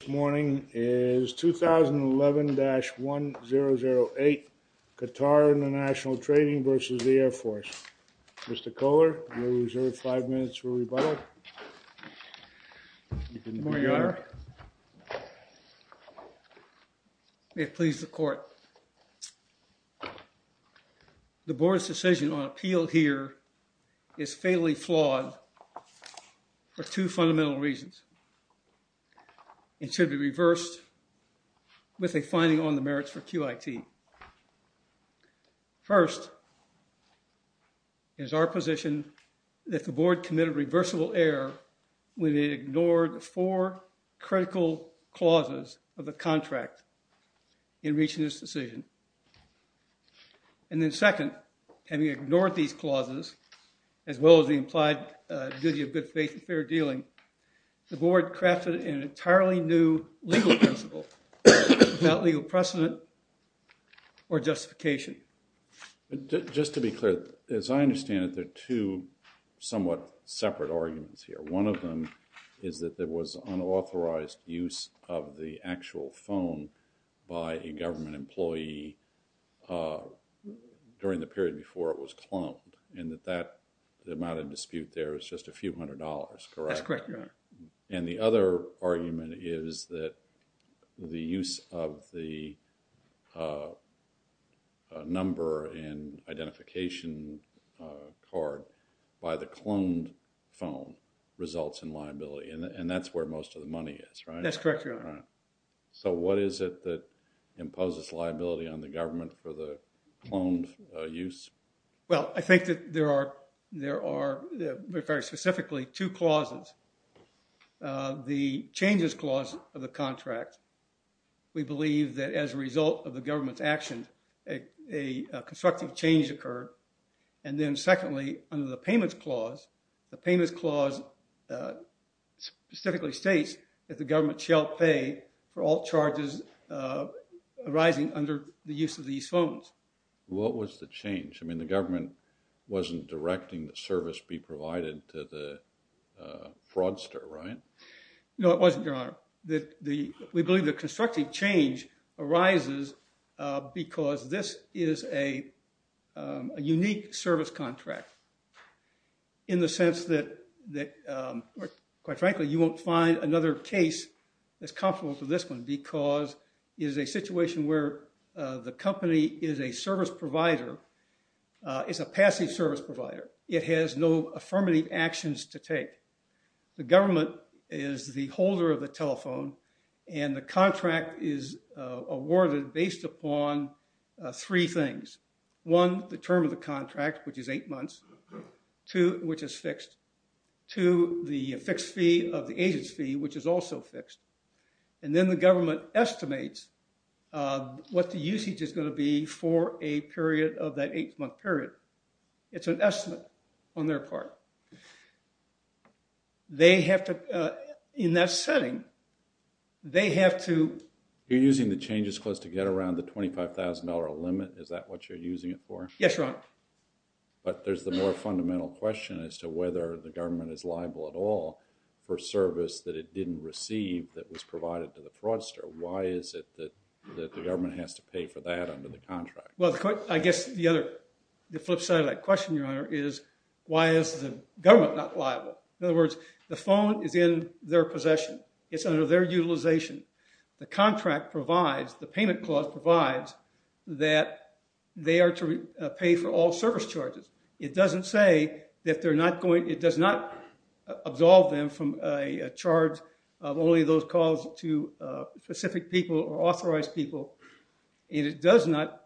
This morning is 2011-1008, Qatar International Trading versus the Air Force. Mr. Kohler, you're reserved five minutes for rebuttal. You can move your honor. May it please the court. The board's decision on appeal here is fairly flawed for two fundamental reasons. It should be reversed with a finding on the merits for QIT. First is our position that the board committed reversible error when it ignored four critical clauses of the contract in reaching this decision. And then second, having ignored these clauses, as well as the implied duty of good faith and fair dealing, the board crafted an entirely new legal principle without legal precedent or justification. Just to be clear, as I understand it, there are two somewhat separate arguments here. One of them is that there was unauthorized use of the actual phone by a government employee during the period before it was cloned, and that the amount of dispute there is just a few hundred dollars, correct? That's correct, your honor. And the other argument is that the use of the number and identification card by the cloned phone results in liability, and that's where most of the money is, right? That's correct, your honor. So what is it that imposes liability on the government for the cloned use? Well, I think that there are, very specifically, two clauses. The changes clause of the contract, we believe that as a result of the government's action, a constructive change occurred. And then secondly, under the payments clause, the payments clause specifically states that the government shall pay for all charges arising under the use of these phones. What was the change? I mean, the government wasn't directing the service be provided to the fraudster, right? No, it wasn't, your honor. We believe the constructive change arises because this is a unique service contract in the sense that, quite frankly, you won't find another case as comparable to this one because it is a situation where the company is a service provider, it's a passive service provider. It has no affirmative actions to take. The government is the holder of the telephone, and the contract is awarded based upon three things. One, the term of the contract, which is eight months, two, which is fixed, two, the fixed fee of the agent's fee, which is also fixed, and then the government estimates what the usage is going to be for a period of that eight-month period. It's an estimate on their part. They have to, in that setting, they have to- You're using the changes clause to get around the $25,000 limit, is that what you're using it for? Yes, your honor. But there's the more fundamental question as to whether the government is liable at all for service that it didn't receive that was provided to the fraudster. Why is it that the government has to pay for that under the contract? Well, I guess the flip side of that question, your honor, is why is the government not liable? In other words, the phone is in their possession. It's under their utilization. The contract provides, the payment clause provides that they are to pay for all service charges. It doesn't say that they're not going, it does not absolve them from a charge of only those calls to specific people or authorized people, and it does not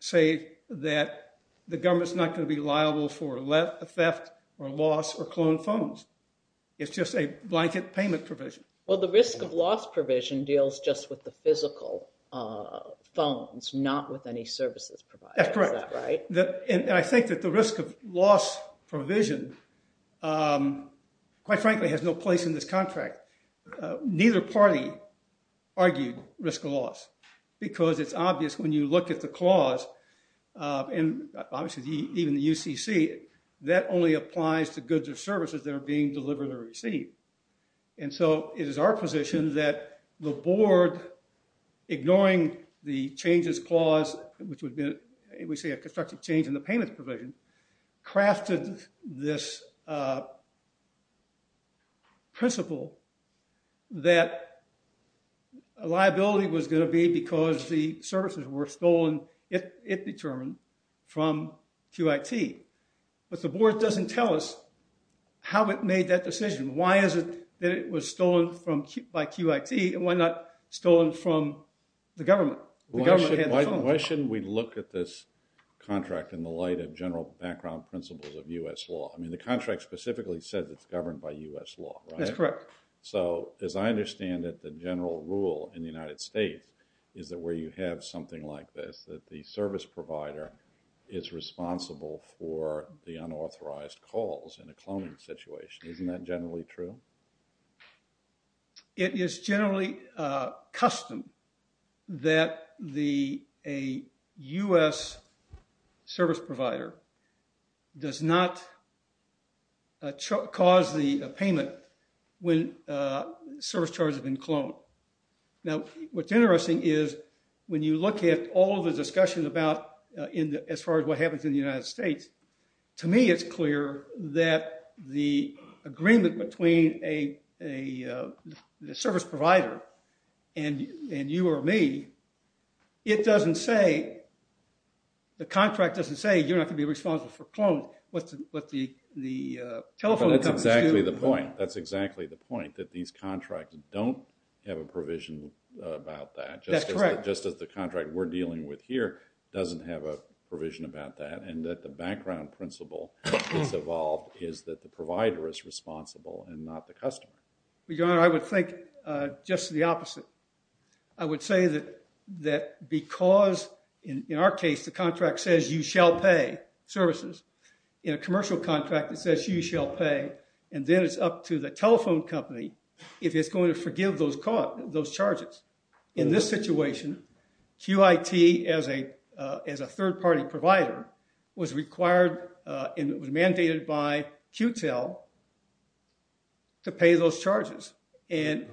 say that the government's not going to be liable for theft or loss or cloned phones. It's just a blanket payment provision. Well, the risk of loss provision deals just with the physical phones, not with any services provided. That's correct. Is that right? And I think that the risk of loss provision, quite frankly, has no place in this contract. Neither party argued risk of loss because it's obvious when you look at the clause, and obviously even the UCC, that only applies to goods or services that are being delivered or is our position that the board, ignoring the changes clause, which would be, we see a constructive change in the payment provision, crafted this principle that liability was going to be because the services were stolen, if determined, from QIT. But the board doesn't tell us how it made that decision. Why is it that it was stolen by QIT, and why not stolen from the government? Why shouldn't we look at this contract in the light of general background principles of U.S. law? I mean, the contract specifically says it's governed by U.S. law, right? That's correct. So as I understand it, the general rule in the United States is that where you have something like this, that the service provider is responsible for the unauthorized calls in a cloning situation. Isn't that generally true? It is generally custom that a U.S. service provider does not cause the payment when service charges have been cloned. Now, what's interesting is when you look at all the discussion about, as far as what happens in the United States, to me it's clear that the agreement between a service provider and you or me, it doesn't say, the contract doesn't say you're not going to be responsible for cloning. That's exactly the point. That these contracts don't have a provision about that. That's correct. Just as the contract we're dealing with here doesn't have a provision about that, and that the background principle that's evolved is that the provider is responsible and not the customer. Your Honor, I would think just the opposite. I would say that because in our case the contract says you shall pay services, in a commercial contract it says you shall pay, and then it's up to the telephone company if it's going to forgive those charges. In this situation, QIT as a third-party provider was required, and it was mandated by QTEL to pay those charges.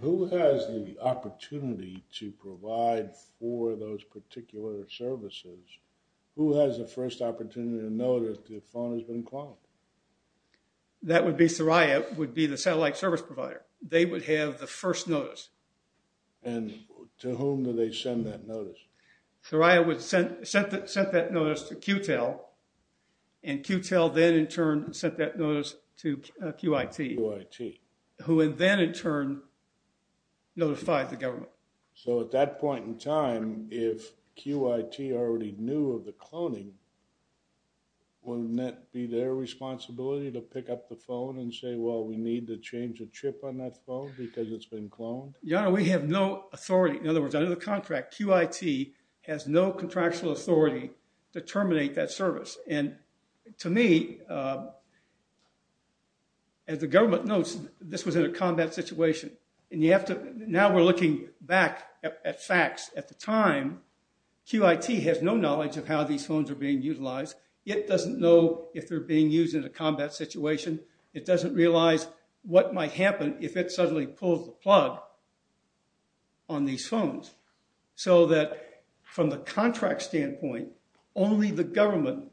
Who has the opportunity to provide for those particular services? Who has the first opportunity to know that the phone has been cloned? That would be Saria, would be the satellite service provider. They would have the first notice. And to whom do they send that notice? Saria would send that notice to QTEL, and QTEL then in turn sent that notice to QIT. QIT. Who then in turn notified the government. So at that point in time, if QIT already knew of the cloning, wouldn't that be their responsibility to pick up the phone and say, well, we need to change the chip on that phone because it's been cloned? We have no authority. In other words, under the contract, QIT has no contractual authority to terminate that service. And to me, as the government notes, this was in a combat situation. And now we're looking back at facts. At the time, QIT has no knowledge of how these phones are being utilized. It doesn't know if they're being used in a combat situation. It doesn't realize what might happen if it suddenly pulls the plug. On these phones. So that from the contract standpoint, only the government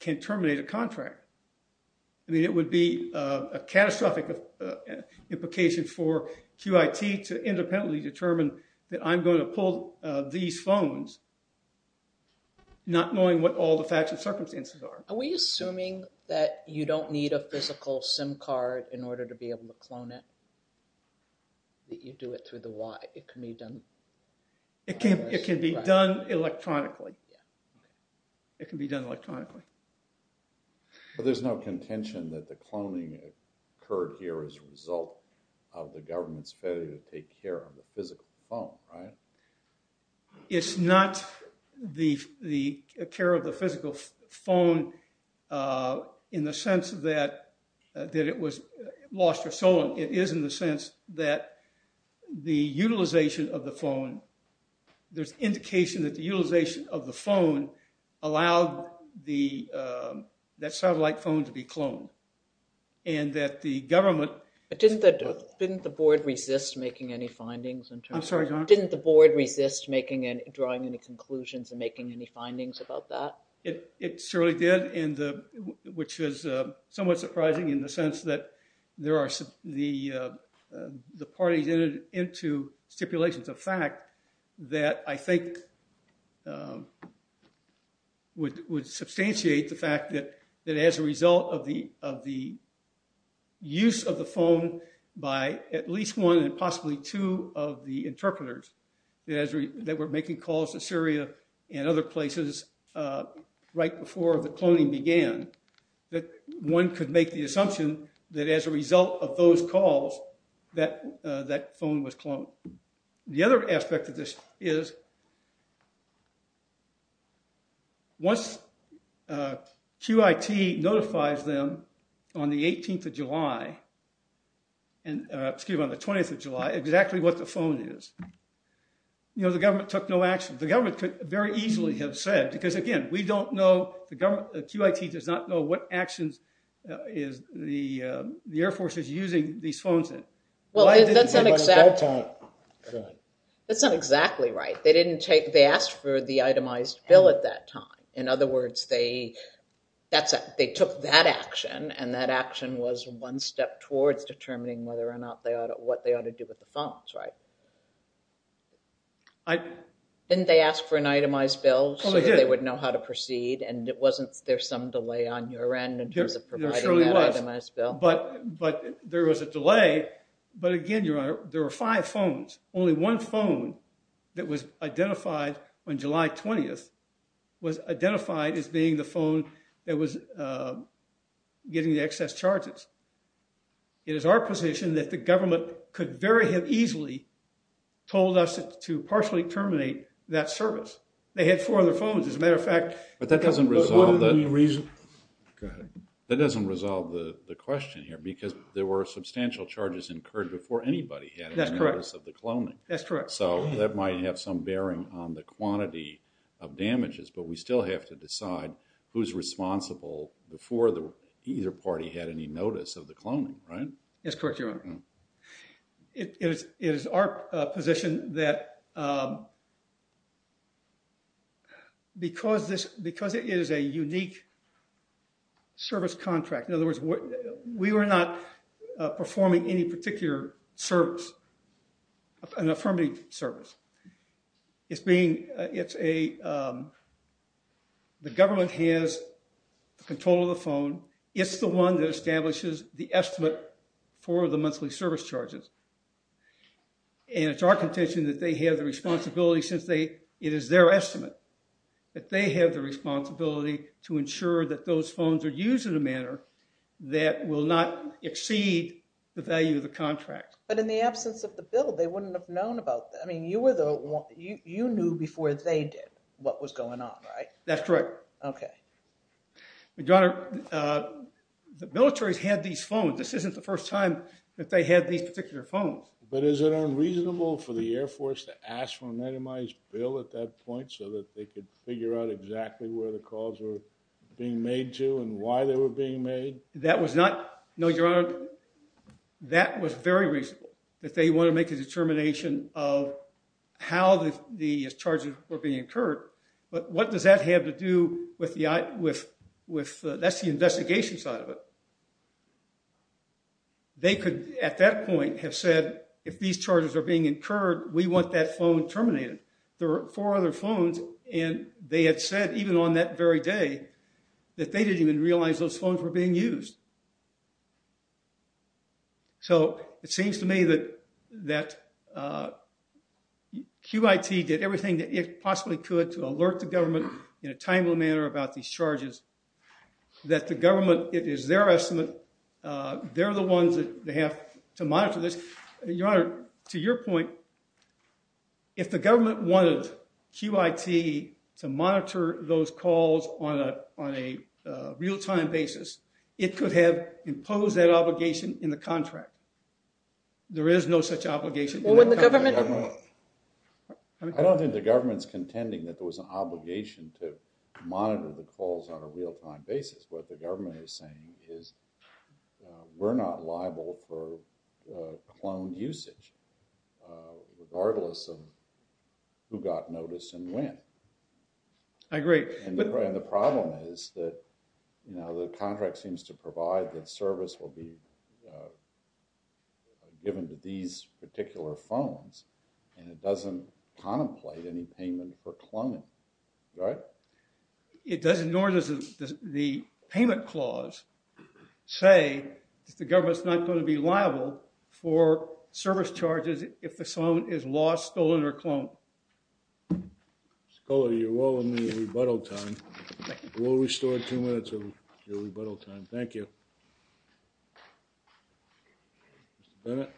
can terminate a contract. I mean, it would be a catastrophic implication for QIT to independently determine that I'm going to pull these phones not knowing what all the facts and circumstances are. Are we assuming that you don't need a physical SIM card in order to be able to clone it? That you do it through the wire? It can be done? It can be done electronically. It can be done electronically. But there's no contention that the cloning occurred here as a result of the government's failure to take care of the physical phone, right? It's not the care of the physical phone in the sense that it was lost or stolen. It is in the sense that the utilization of the phone, there's indication that the utilization of the phone allowed that satellite phone to be cloned. And that the government... But didn't the board resist making any findings? I'm sorry, Your Honor? Didn't the board resist drawing any conclusions and making any findings about that? It surely did. Which is somewhat surprising in the sense that there are the parties into stipulations of fact that I think would substantiate the fact that as a result of the use of the phone by at least one and possibly two of the interpreters that were making calls to Syria and other places right before the cloning began, that one could make the assumption that as a result of those calls that that phone was cloned. The other aspect of this is once QIT notifies them on the 18th of July, and excuse me, on the 20th of July, exactly what the phone is, you know, the government took no action. The government could very easily have said, because again, we don't know, the government, QIT does not know what actions is the Air Force is using these phones in. Well, that's not exactly right. They didn't take, they asked for the itemized bill at that time. In other words, they took that action and that action was one step towards determining whether or not they ought to, what they ought to do with the phones, right? And they asked for an itemized bill so they would know how to proceed and it wasn't, there's some delay on your end in terms of providing that itemized bill. But there was a delay. But again, Your Honor, there were five phones. Only one phone that was identified on July 20th was identified as being the phone that was getting the excess charges. It is our position that the government could very have easily told us to partially terminate that service. They had four other phones. As a matter of fact. But that doesn't resolve the, that doesn't resolve the question here, because there were substantial charges incurred before anybody had any notice of the cloning. That's correct. So that might have some bearing on the quantity of damages, but we still have to decide who's responsible before either party had any notice of the cloning, right? That's correct, Your Honor. It is our position that because this, because it is a unique service contract, in other words, we were not performing any particular service, an affirmative service. It's being, it's a, the government has the control of the phone. It's the one that establishes the estimate for the monthly service charges. And it's our contention that they have the responsibility since they, it is their estimate, that they have the responsibility to ensure that those phones are used in a manner that will not exceed the value of the contract. But in the absence of the bill, they wouldn't have known about that. I mean, you were the one, you knew before they did what was going on, right? That's correct. Okay. Your Honor, the military's had these phones. This isn't the first time that they had these particular phones. But is it unreasonable for the Air Force to ask for a minimized bill at that point so that they could figure out exactly where the calls were being made to and why they were being made? That was not, no, Your Honor, that was very reasonable, that they want to make a determination of how the charges were being incurred. But what does that have to do with the, that's the investigation side of it. They could, at that point, have said, if these charges are being incurred, we want that phone terminated. There were four other phones, and they had said, even on that very day, that they didn't even realize those phones were being used. So it seems to me that QIT did everything that it possibly could to alert the government in a timely manner about these charges, that the government, it is their estimate, they're the ones that they have to monitor this. Your Honor, to your point, if the government wanted QIT to monitor those calls on a, on a real-time basis, it could have imposed that obligation in the contract. There is no such obligation. Well, wouldn't the government? I don't think the government's contending that there was an obligation to monitor the calls on a real-time basis. What the government is saying is, we're not liable for cloned usage, regardless of who got notice and when. I agree. And the problem is that, you know, the contract seems to provide that service will be given to these particular phones, and it doesn't contemplate any payment for cloning, right? It doesn't, nor does the payment clause say that the government's not going to be liable for service charges if the phone is lost, stolen, or cloned. Mr. Kohler, you're well in the rebuttal time. We'll restore two minutes of your rebuttal time. Thank you. Mr. Bennett?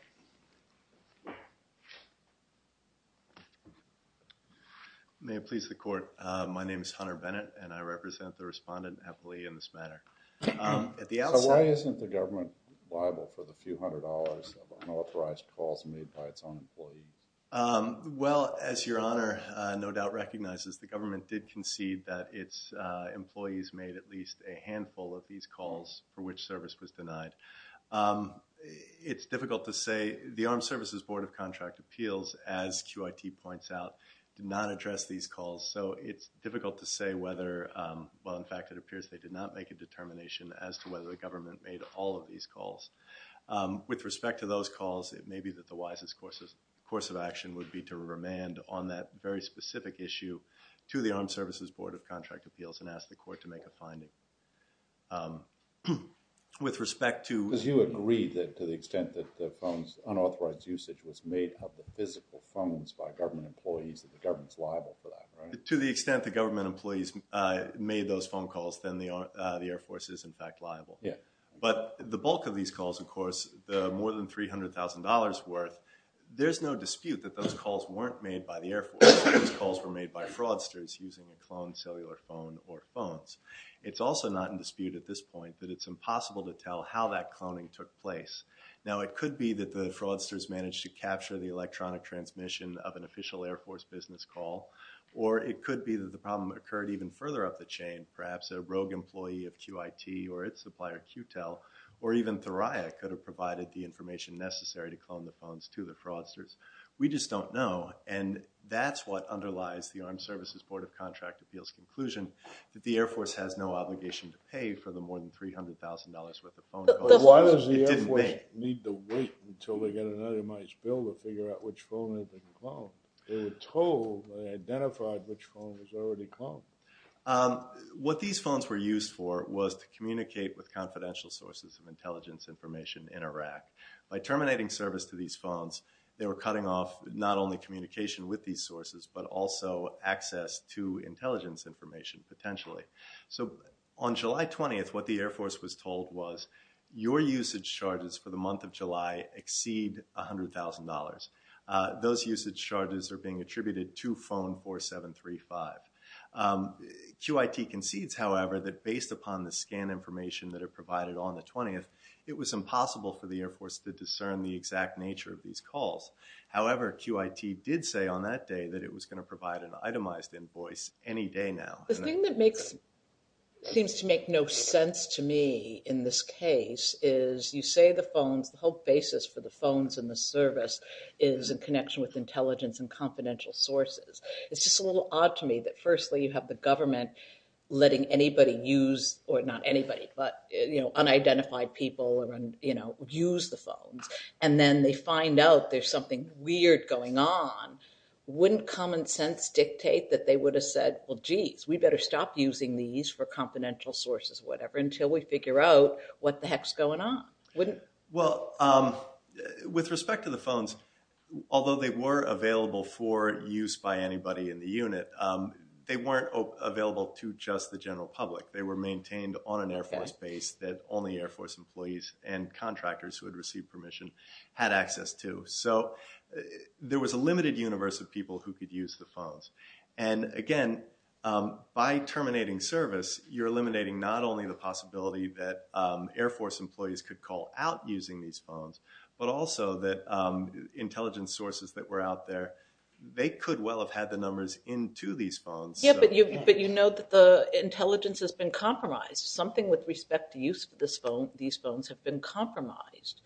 May it please the Court. My name is Hunter Bennett, and I represent the respondent, Epley, in this matter. At the outset— So why isn't the government liable for the few hundred dollars of unauthorized calls made by its own employees? Well, as Your Honor no doubt recognizes, the government did concede that its employees made at least a handful of these calls for which service was denied. It's difficult to say. The Armed Services Board of Contract Appeals, as QIT points out, did not address these calls, so it's difficult to say whether— well, in fact, it appears they did not make a determination as to whether the government made all of these calls. With respect to those calls, it may be that the wisest course of action would be to remand on that very specific issue to the Armed Services Board of Contract Appeals and ask the Court to make a finding. With respect to— Because you agree that to the extent that the phone's unauthorized usage was made of the physical phones by government employees, that the government's liable for that, right? To the extent the government employees made those phone calls, then the Air Force is, in fact, liable. But the bulk of these calls, of course, more than $300,000 worth, there's no dispute that those calls weren't made by the Air Force. Those calls were made by fraudsters using a cloned cellular phone or phones. It's also not in dispute at this point that it's impossible to tell how that cloning took place. Now, it could be that the fraudsters managed to capture the electronic transmission of an official Air Force business call, or it could be that the problem occurred even further up the chain. Perhaps a rogue employee of QIT or its supplier, QTEL, or even Thuraya could have provided the information necessary to clone the phones to the fraudsters. We just don't know, and that's what underlies the Armed Services Board of Contract Appeals' conclusion that the Air Force has no obligation to pay for the more than $300,000 worth of phone calls. But why does the Air Force need to wait until they get an itemized bill to figure out which phone has been cloned? They were told, they identified which phone was already cloned. What these phones were used for was to communicate with confidential sources of intelligence information in Iraq. By terminating service to these phones, they were cutting off not only communication with these sources, but also access to intelligence information, potentially. So on July 20th, what the Air Force was told was, your usage charges for the month of July exceed $100,000. Those usage charges are being attributed to phone 4735. QIT concedes, however, that based upon the scan information that are provided on the 20th, it was impossible for the Air Force to discern the exact nature of these calls. However, QIT did say on that day that it was going to provide an itemized invoice any day now. The thing that seems to make no sense to me in this case is you say the phones, the whole basis for the phones and the service is in connection with intelligence and confidential sources. It's just a little odd to me that firstly, you have the government letting anybody use, or not anybody, but unidentified people use the phones. And then they find out there's something weird going on. Wouldn't common sense dictate that they would have said, well, geez, we better stop using these for confidential sources, whatever, until we figure out what the heck's going on? Well, with respect to the phones, although they were available for use by anybody in the unit, they weren't available to just the general public. They were maintained on an Air Force base that only Air Force employees and contractors who had received permission had access to. So there was a limited universe of people who could use the phones. And again, by terminating service, you're eliminating not only the possibility that Air Force employees could call out using these phones, but also that intelligence sources that were out there, they could well have had the numbers into these phones. Yeah, but you know that the intelligence has been compromised. Something with respect to use of these phones have been compromised.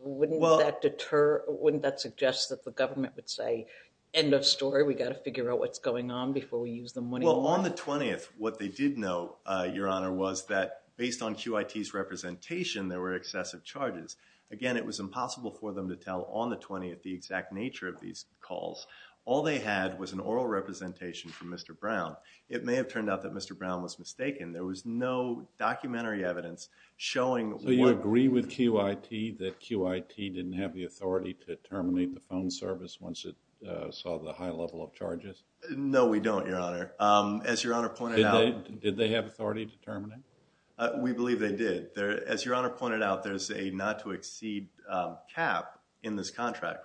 Wouldn't that suggest that the government would say, end of story, we've got to figure out what's going on before we use them when we want? Well, on the 20th, what they did know, Your Honor, was that based on QIT's representation, there were excessive charges. Again, it was impossible for them to tell on the 20th the exact nature of these calls. All they had was an oral representation from Mr. Brown. It may have turned out that Mr. Brown was mistaken. There was no documentary evidence showing what... So you agree with QIT that QIT didn't have the authority to terminate the phone service once it saw the high level of charges? No, we don't, Your Honor. As Your Honor pointed out... Did they have authority to terminate? We believe they did. As Your Honor pointed out, there's a not to exceed cap in this contract,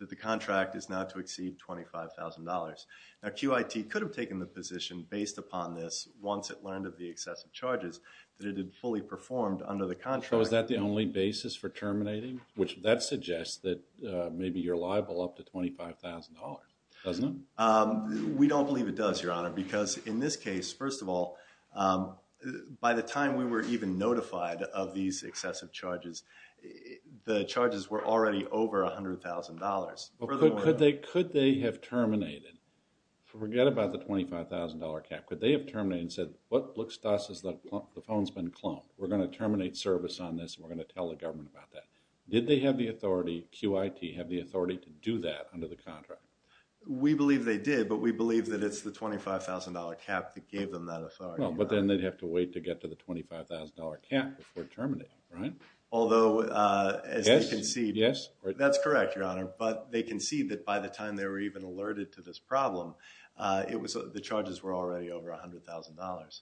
that the contract is not to exceed $25,000. Now, QIT could have taken the position based upon this once it learned of the excessive charges that it had fully performed under the contract. Was that the only basis for terminating? Which that suggests that maybe you're liable up to $25,000, doesn't it? We don't believe it does, Your Honor, because in this case, first of all, by the time we were even notified of these excessive charges, the charges were already over $100,000. Could they have terminated, forget about the $25,000 cap, could they have terminated and said, what looks to us is that the phone's been clumped. We're going to terminate service on this and we're going to tell the government about that. Did they have the authority, QIT, have the authority to do that under the contract? We believe they did, but we believe that it's the $25,000 cap that gave them that authority. But then they'd have to wait to get to the $25,000 cap before terminating, right? Although, as you can see, that's correct, Your Honor, but they can see that by the time they were even alerted to this problem, the charges were already over $100,000.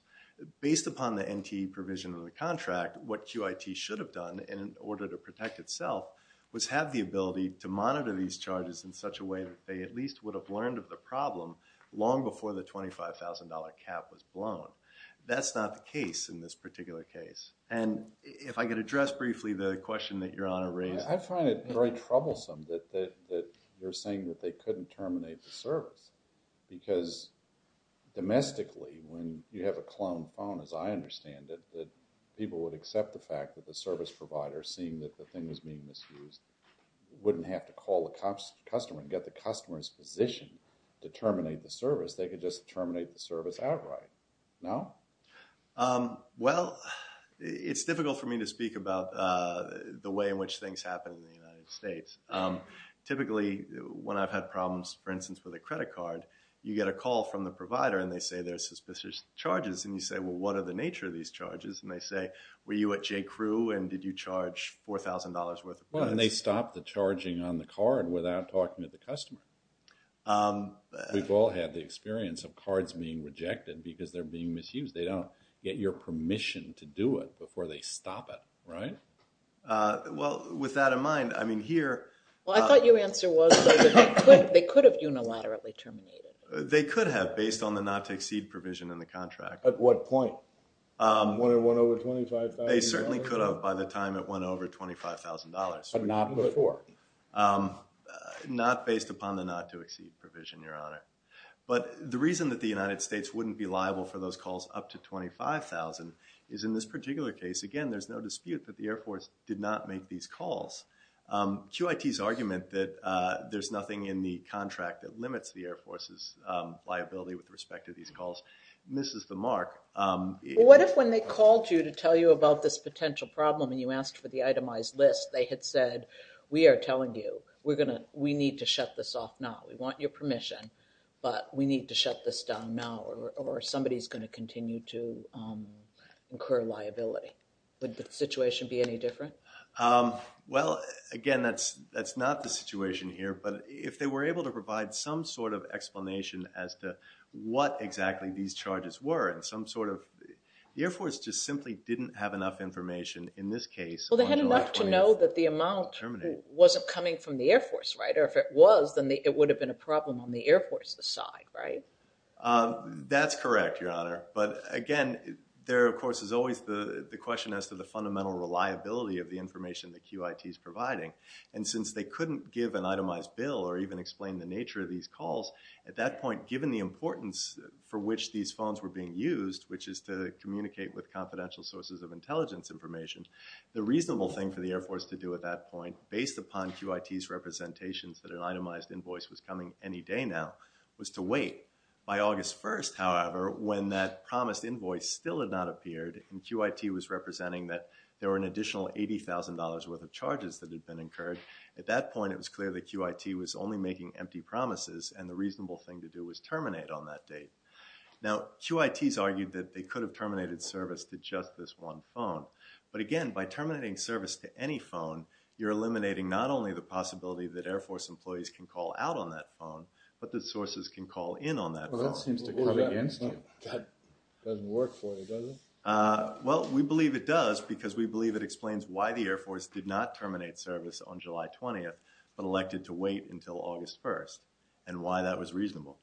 Based upon the NT provision of the contract, what QIT should have done in order to protect itself was have the ability to monitor these charges in such a way that they at least would have learned of the problem long before the $25,000 cap was blown. That's not the case in this particular case. And if I could address briefly the question that Your Honor raised. I find it very troublesome that you're saying that they couldn't terminate the service because domestically when you have a clone phone, as I understand it, that people would accept the fact that the service provider seeing that the thing was being misused wouldn't have to call the customer and get the customer's position to terminate the service. They could just terminate the service outright, no? Well, it's difficult for me to speak about the way in which things happen in the United States. Typically, when I've had problems, for instance, with a credit card, you get a call from the provider and they say there's suspicious charges and you say, well, what are the nature of these charges? And they say, were you at J.Crew and did you charge $4,000 worth of credits? Well, and they stopped the charging on the card without talking to the customer. We've all had the experience of cards being rejected because they're being misused. They don't get your permission to do it before they stop it, right? Well, with that in mind, I mean, here- Well, I thought your answer was they could have unilaterally terminated. They could have based on the not to exceed provision in the contract. At what point? When it went over $25,000? They certainly could have by the time it went over $25,000. But not before? Not based upon the not to exceed provision, Your Honor. But the reason that the United States wouldn't be liable for those calls up to $25,000 is in this particular case. Again, there's no dispute that the Air Force did not make these calls. QIT's argument that there's nothing in the contract that limits the Air Force's liability with respect to these calls misses the mark. What if when they called you to tell you about this potential problem and you asked for the itemized list, they had said, we are telling you, we need to shut this off now. We want your permission. But we need to shut this down now, or somebody is going to continue to incur liability. Would the situation be any different? Well, again, that's not the situation here. But if they were able to provide some sort of explanation as to what exactly these charges were, and some sort of, the Air Force just simply didn't have enough information in this case. Well, they had enough to know that the amount wasn't coming from the Air Force, right? Or if it was, then it would have been a problem on the Air Force's side, right? That's correct, Your Honor. But again, there, of course, is always the question as to the fundamental reliability of the information that QIT is providing. And since they couldn't give an itemized bill or even explain the nature of these calls, at that point, given the importance for which these phones were being used, which is to communicate with confidential sources of intelligence information, the reasonable thing for the Air Force to do at that point, based upon QIT's representations that an itemized invoice was coming any day now, was to wait. By August 1st, however, when that promised invoice still had not appeared and QIT was representing that there were an additional $80,000 worth of charges that had been incurred, at that point, it was clear that QIT was only making empty promises and the reasonable thing to do was terminate on that date. Now, QIT's argued that they could have terminated service to just this one phone. But again, by terminating service to any phone, you're eliminating not only the possibility that Air Force employees can call out on that phone, but that sources can call in on that phone. Well, that seems to cut against you. That doesn't work for you, does it? Well, we believe it does because we believe it explains why the Air Force did not terminate service on July 20th, but elected to wait until August 1st and why that was reasonable.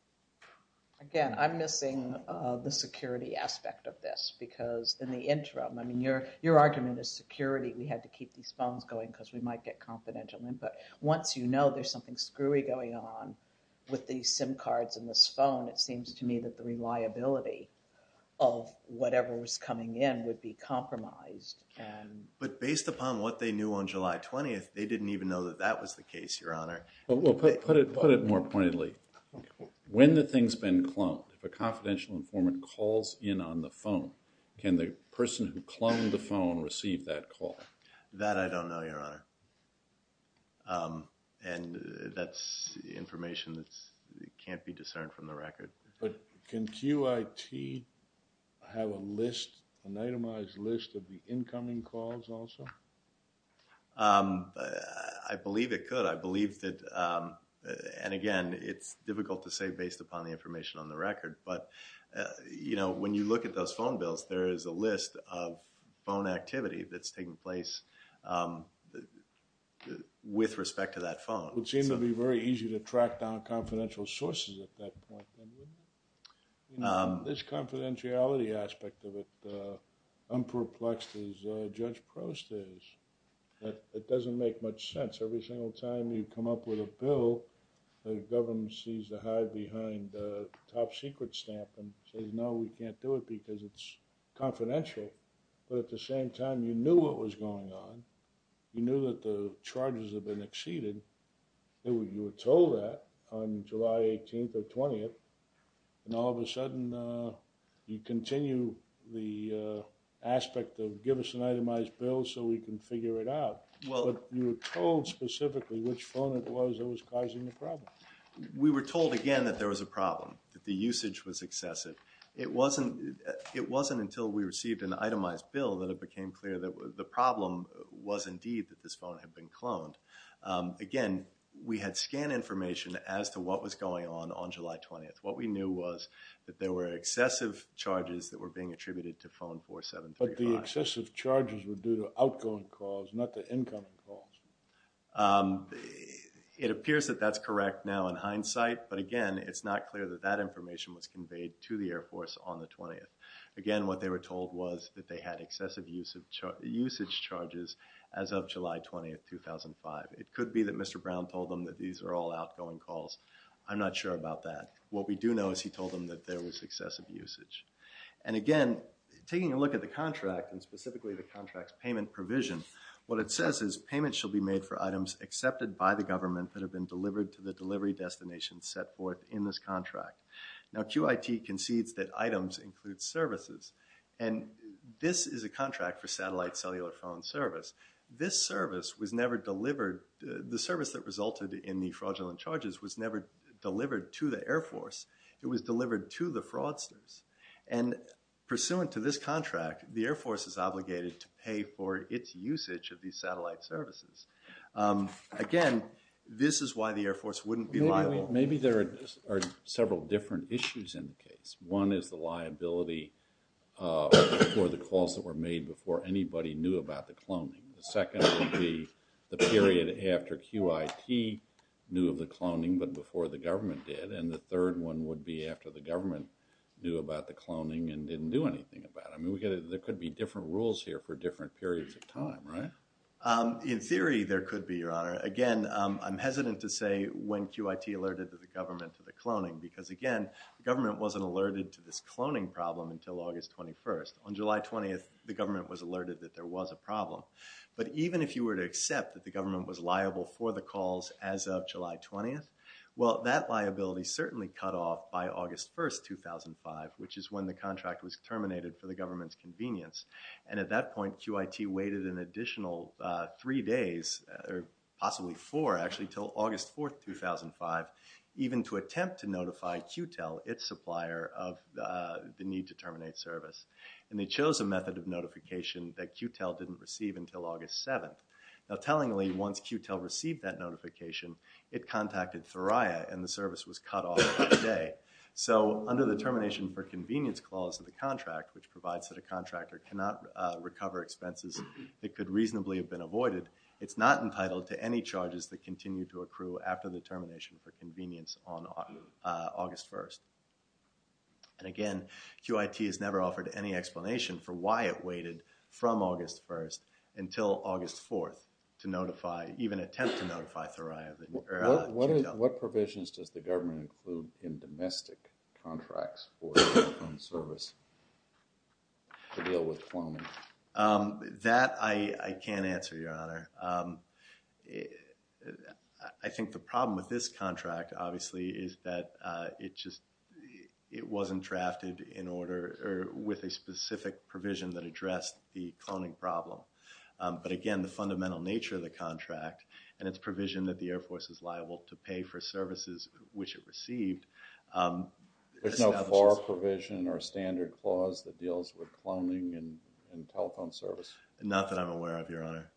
Again, I'm missing the security aspect of this because in the interim, I mean, your argument is security. We had to keep these phones going because we might get confidential input. Once you know there's something screwy going on with these SIM cards in this phone, it seems to me that the reliability of whatever was coming in would be compromised. But based upon what they knew on July 20th, they didn't even know that that was the case, Your Honor. Well, put it more pointedly. When the thing's been cloned, if a confidential informant calls in on the phone, can the person who cloned the phone receive that call? That I don't know, Your Honor. And that's information that can't be discerned from the record. But can QIT have a list, an itemized list of the incoming calls also? I believe it could. I believe that, and again, it's difficult to say based upon the information on the record, but when you look at those phone bills, there is a list of phone activity that's taking place with respect to that phone. It would seem to be very easy to track down confidential sources at that point, don't you think? This confidentiality aspect of it, I'm perplexed as Judge Crost is. It doesn't make much sense. Every single time you come up with a bill, the government sees the hide behind the top secret stamp and says, no, we can't do it because it's confidential. But at the same time, you knew what was going on. You knew that the charges had been exceeded. You were told that on July 18th or 20th, and all of a sudden you continue the aspect of give us an itemized bill so we can figure it out. But you were told specifically which phone it was that was causing the problem. We were told again that there was a problem, that the usage was excessive. It wasn't until we received an itemized bill that it became clear that the problem was indeed that this phone had been cloned. Again, we had scanned information as to what was going on on July 20th. What we knew was that there were excessive charges that were being attributed to phone 4735. But the excessive charges were due to outgoing calls, not the incoming calls. It appears that that's correct now in hindsight. But again, it's not clear that that information was conveyed to the Air Force on the 20th. Again, what they were told was that they had excessive usage charges as of July 20th, 2005. It could be that Mr. Brown told them that these are all outgoing calls. I'm not sure about that. What we do know is he told them that there was excessive usage. And again, taking a look at the contract and specifically the contract's payment provision, what it says is payments shall be made for items accepted by the government that have been delivered to the delivery destination set forth in this contract. Now, QIT concedes that items include services. And this is a contract for satellite cellular phone service. This service was never delivered. The service that resulted in the fraudulent charges was never delivered to the Air Force. It was delivered to the fraudsters. And pursuant to this contract, the Air Force is obligated to pay for its usage of these satellite services. Again, this is why the Air Force wouldn't be liable. Maybe there are several different issues in the case. One is the liability for the calls that were made before anybody knew about the cloning. The second would be the period after QIT knew of the cloning, but before the government did. And the third one would be after the government knew about the cloning and didn't do anything about it. I mean, there could be different rules here In theory, there could be, Your Honor. Again, I'm hesitant to say when QIT alerted the government to the cloning, because again, the government wasn't alerted to this cloning problem until August 21st. On July 20th, the government was alerted that there was a problem. But even if you were to accept that the government was liable for the calls as of July 20th, well, that liability certainly cut off by August 1st, 2005, which is when the contract was terminated for the government's convenience. And at that point, QIT waited an additional three days or possibly four actually till August 4th, 2005, even to attempt to notify QTEL, its supplier of the need to terminate service. And they chose a method of notification that QTEL didn't receive until August 7th. Now tellingly, once QTEL received that notification, it contacted Thuraya and the service was cut off that day. So under the termination for convenience clause of the contract, which provides that a contractor cannot recover expenses that could reasonably have been avoided, it's not entitled to any charges that continue to accrue after the termination for convenience on August 1st. And again, QIT has never offered any explanation for why it waited from August 1st until August 4th to notify, even attempt to notify Thuraya or QTEL. What provisions does the government include in domestic contracts for phone service to deal with phoning? That I can't answer, Your Honor. I think the problem with this contract obviously is that it just, it wasn't drafted in order or with a specific provision that addressed the cloning problem. But again, the fundamental nature of the contract and its provision that the Air Force is liable to pay for services which it received. There's no FAR provision or standard clause that deals with cloning and telephone service. Not that I'm aware of, Your Honor.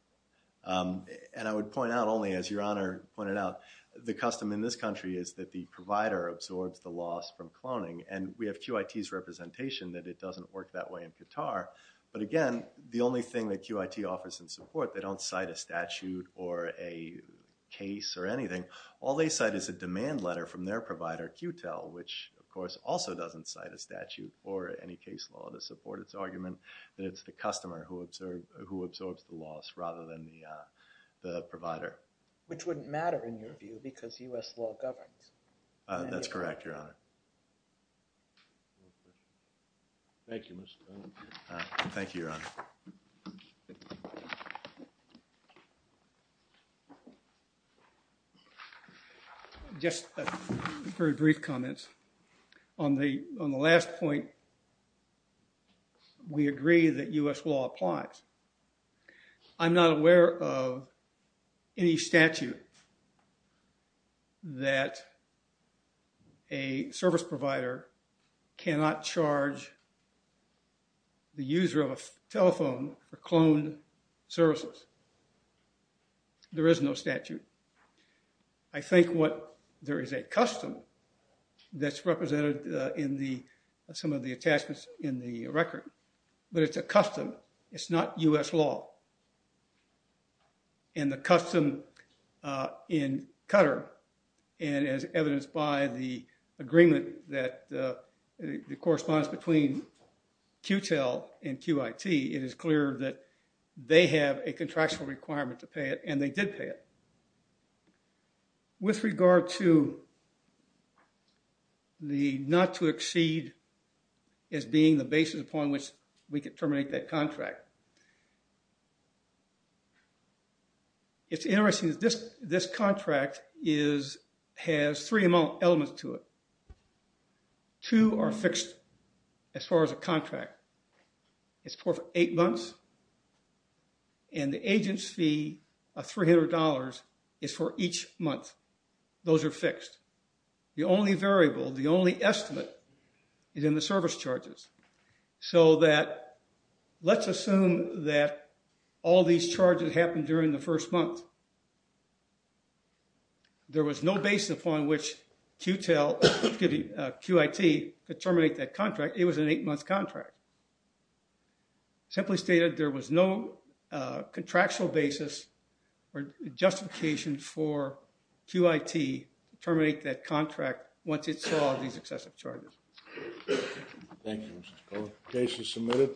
And I would point out only, as Your Honor pointed out, the custom in this country is that the provider absorbs the loss from cloning. And we have QIT's representation that it doesn't work that way in Qatar. But again, the only thing that QIT offers in support, they don't cite a statute or a case or anything. All they cite is a demand letter from their provider, QTEL, which of course also doesn't cite a statute or any case law to support its argument that it's the customer who absorbs the loss rather than the provider. Which wouldn't matter, in your view, because U.S. law governs. That's correct, Your Honor. Thank you, Mr. Allen. Thank you, Your Honor. Just very brief comments. On the last point, we agree that U.S. law applies. I'm not aware of any statute that a service provider cannot charge the user of a telephone for cloned services. There is no statute. I think what there is a custom that's represented in some of the attachments in the record. But it's a custom. It's not U.S. law. And the custom in Qatar, and as evidenced by the agreement that corresponds between QTEL and QIT, it is clear that they have a contractual requirement to pay it, and they did pay it. With regard to the not to exceed as being the basis upon which we could terminate that contract, it's interesting that this contract has three elements to it. Two are fixed, as far as a contract. It's for eight months. And the agent's fee of $300 is for each month. Those are fixed. The only variable, the only estimate, is in the service charges. So that let's assume that all these charges happened during the first month. There was no basis upon which QTEL, excuse me, QIT could terminate that contract. It was an eight-month contract. It simply stated there was no contractual basis or justification for QIT to terminate that contract once it saw these excessive charges. Thank you, Mr. Scully. Case is submitted.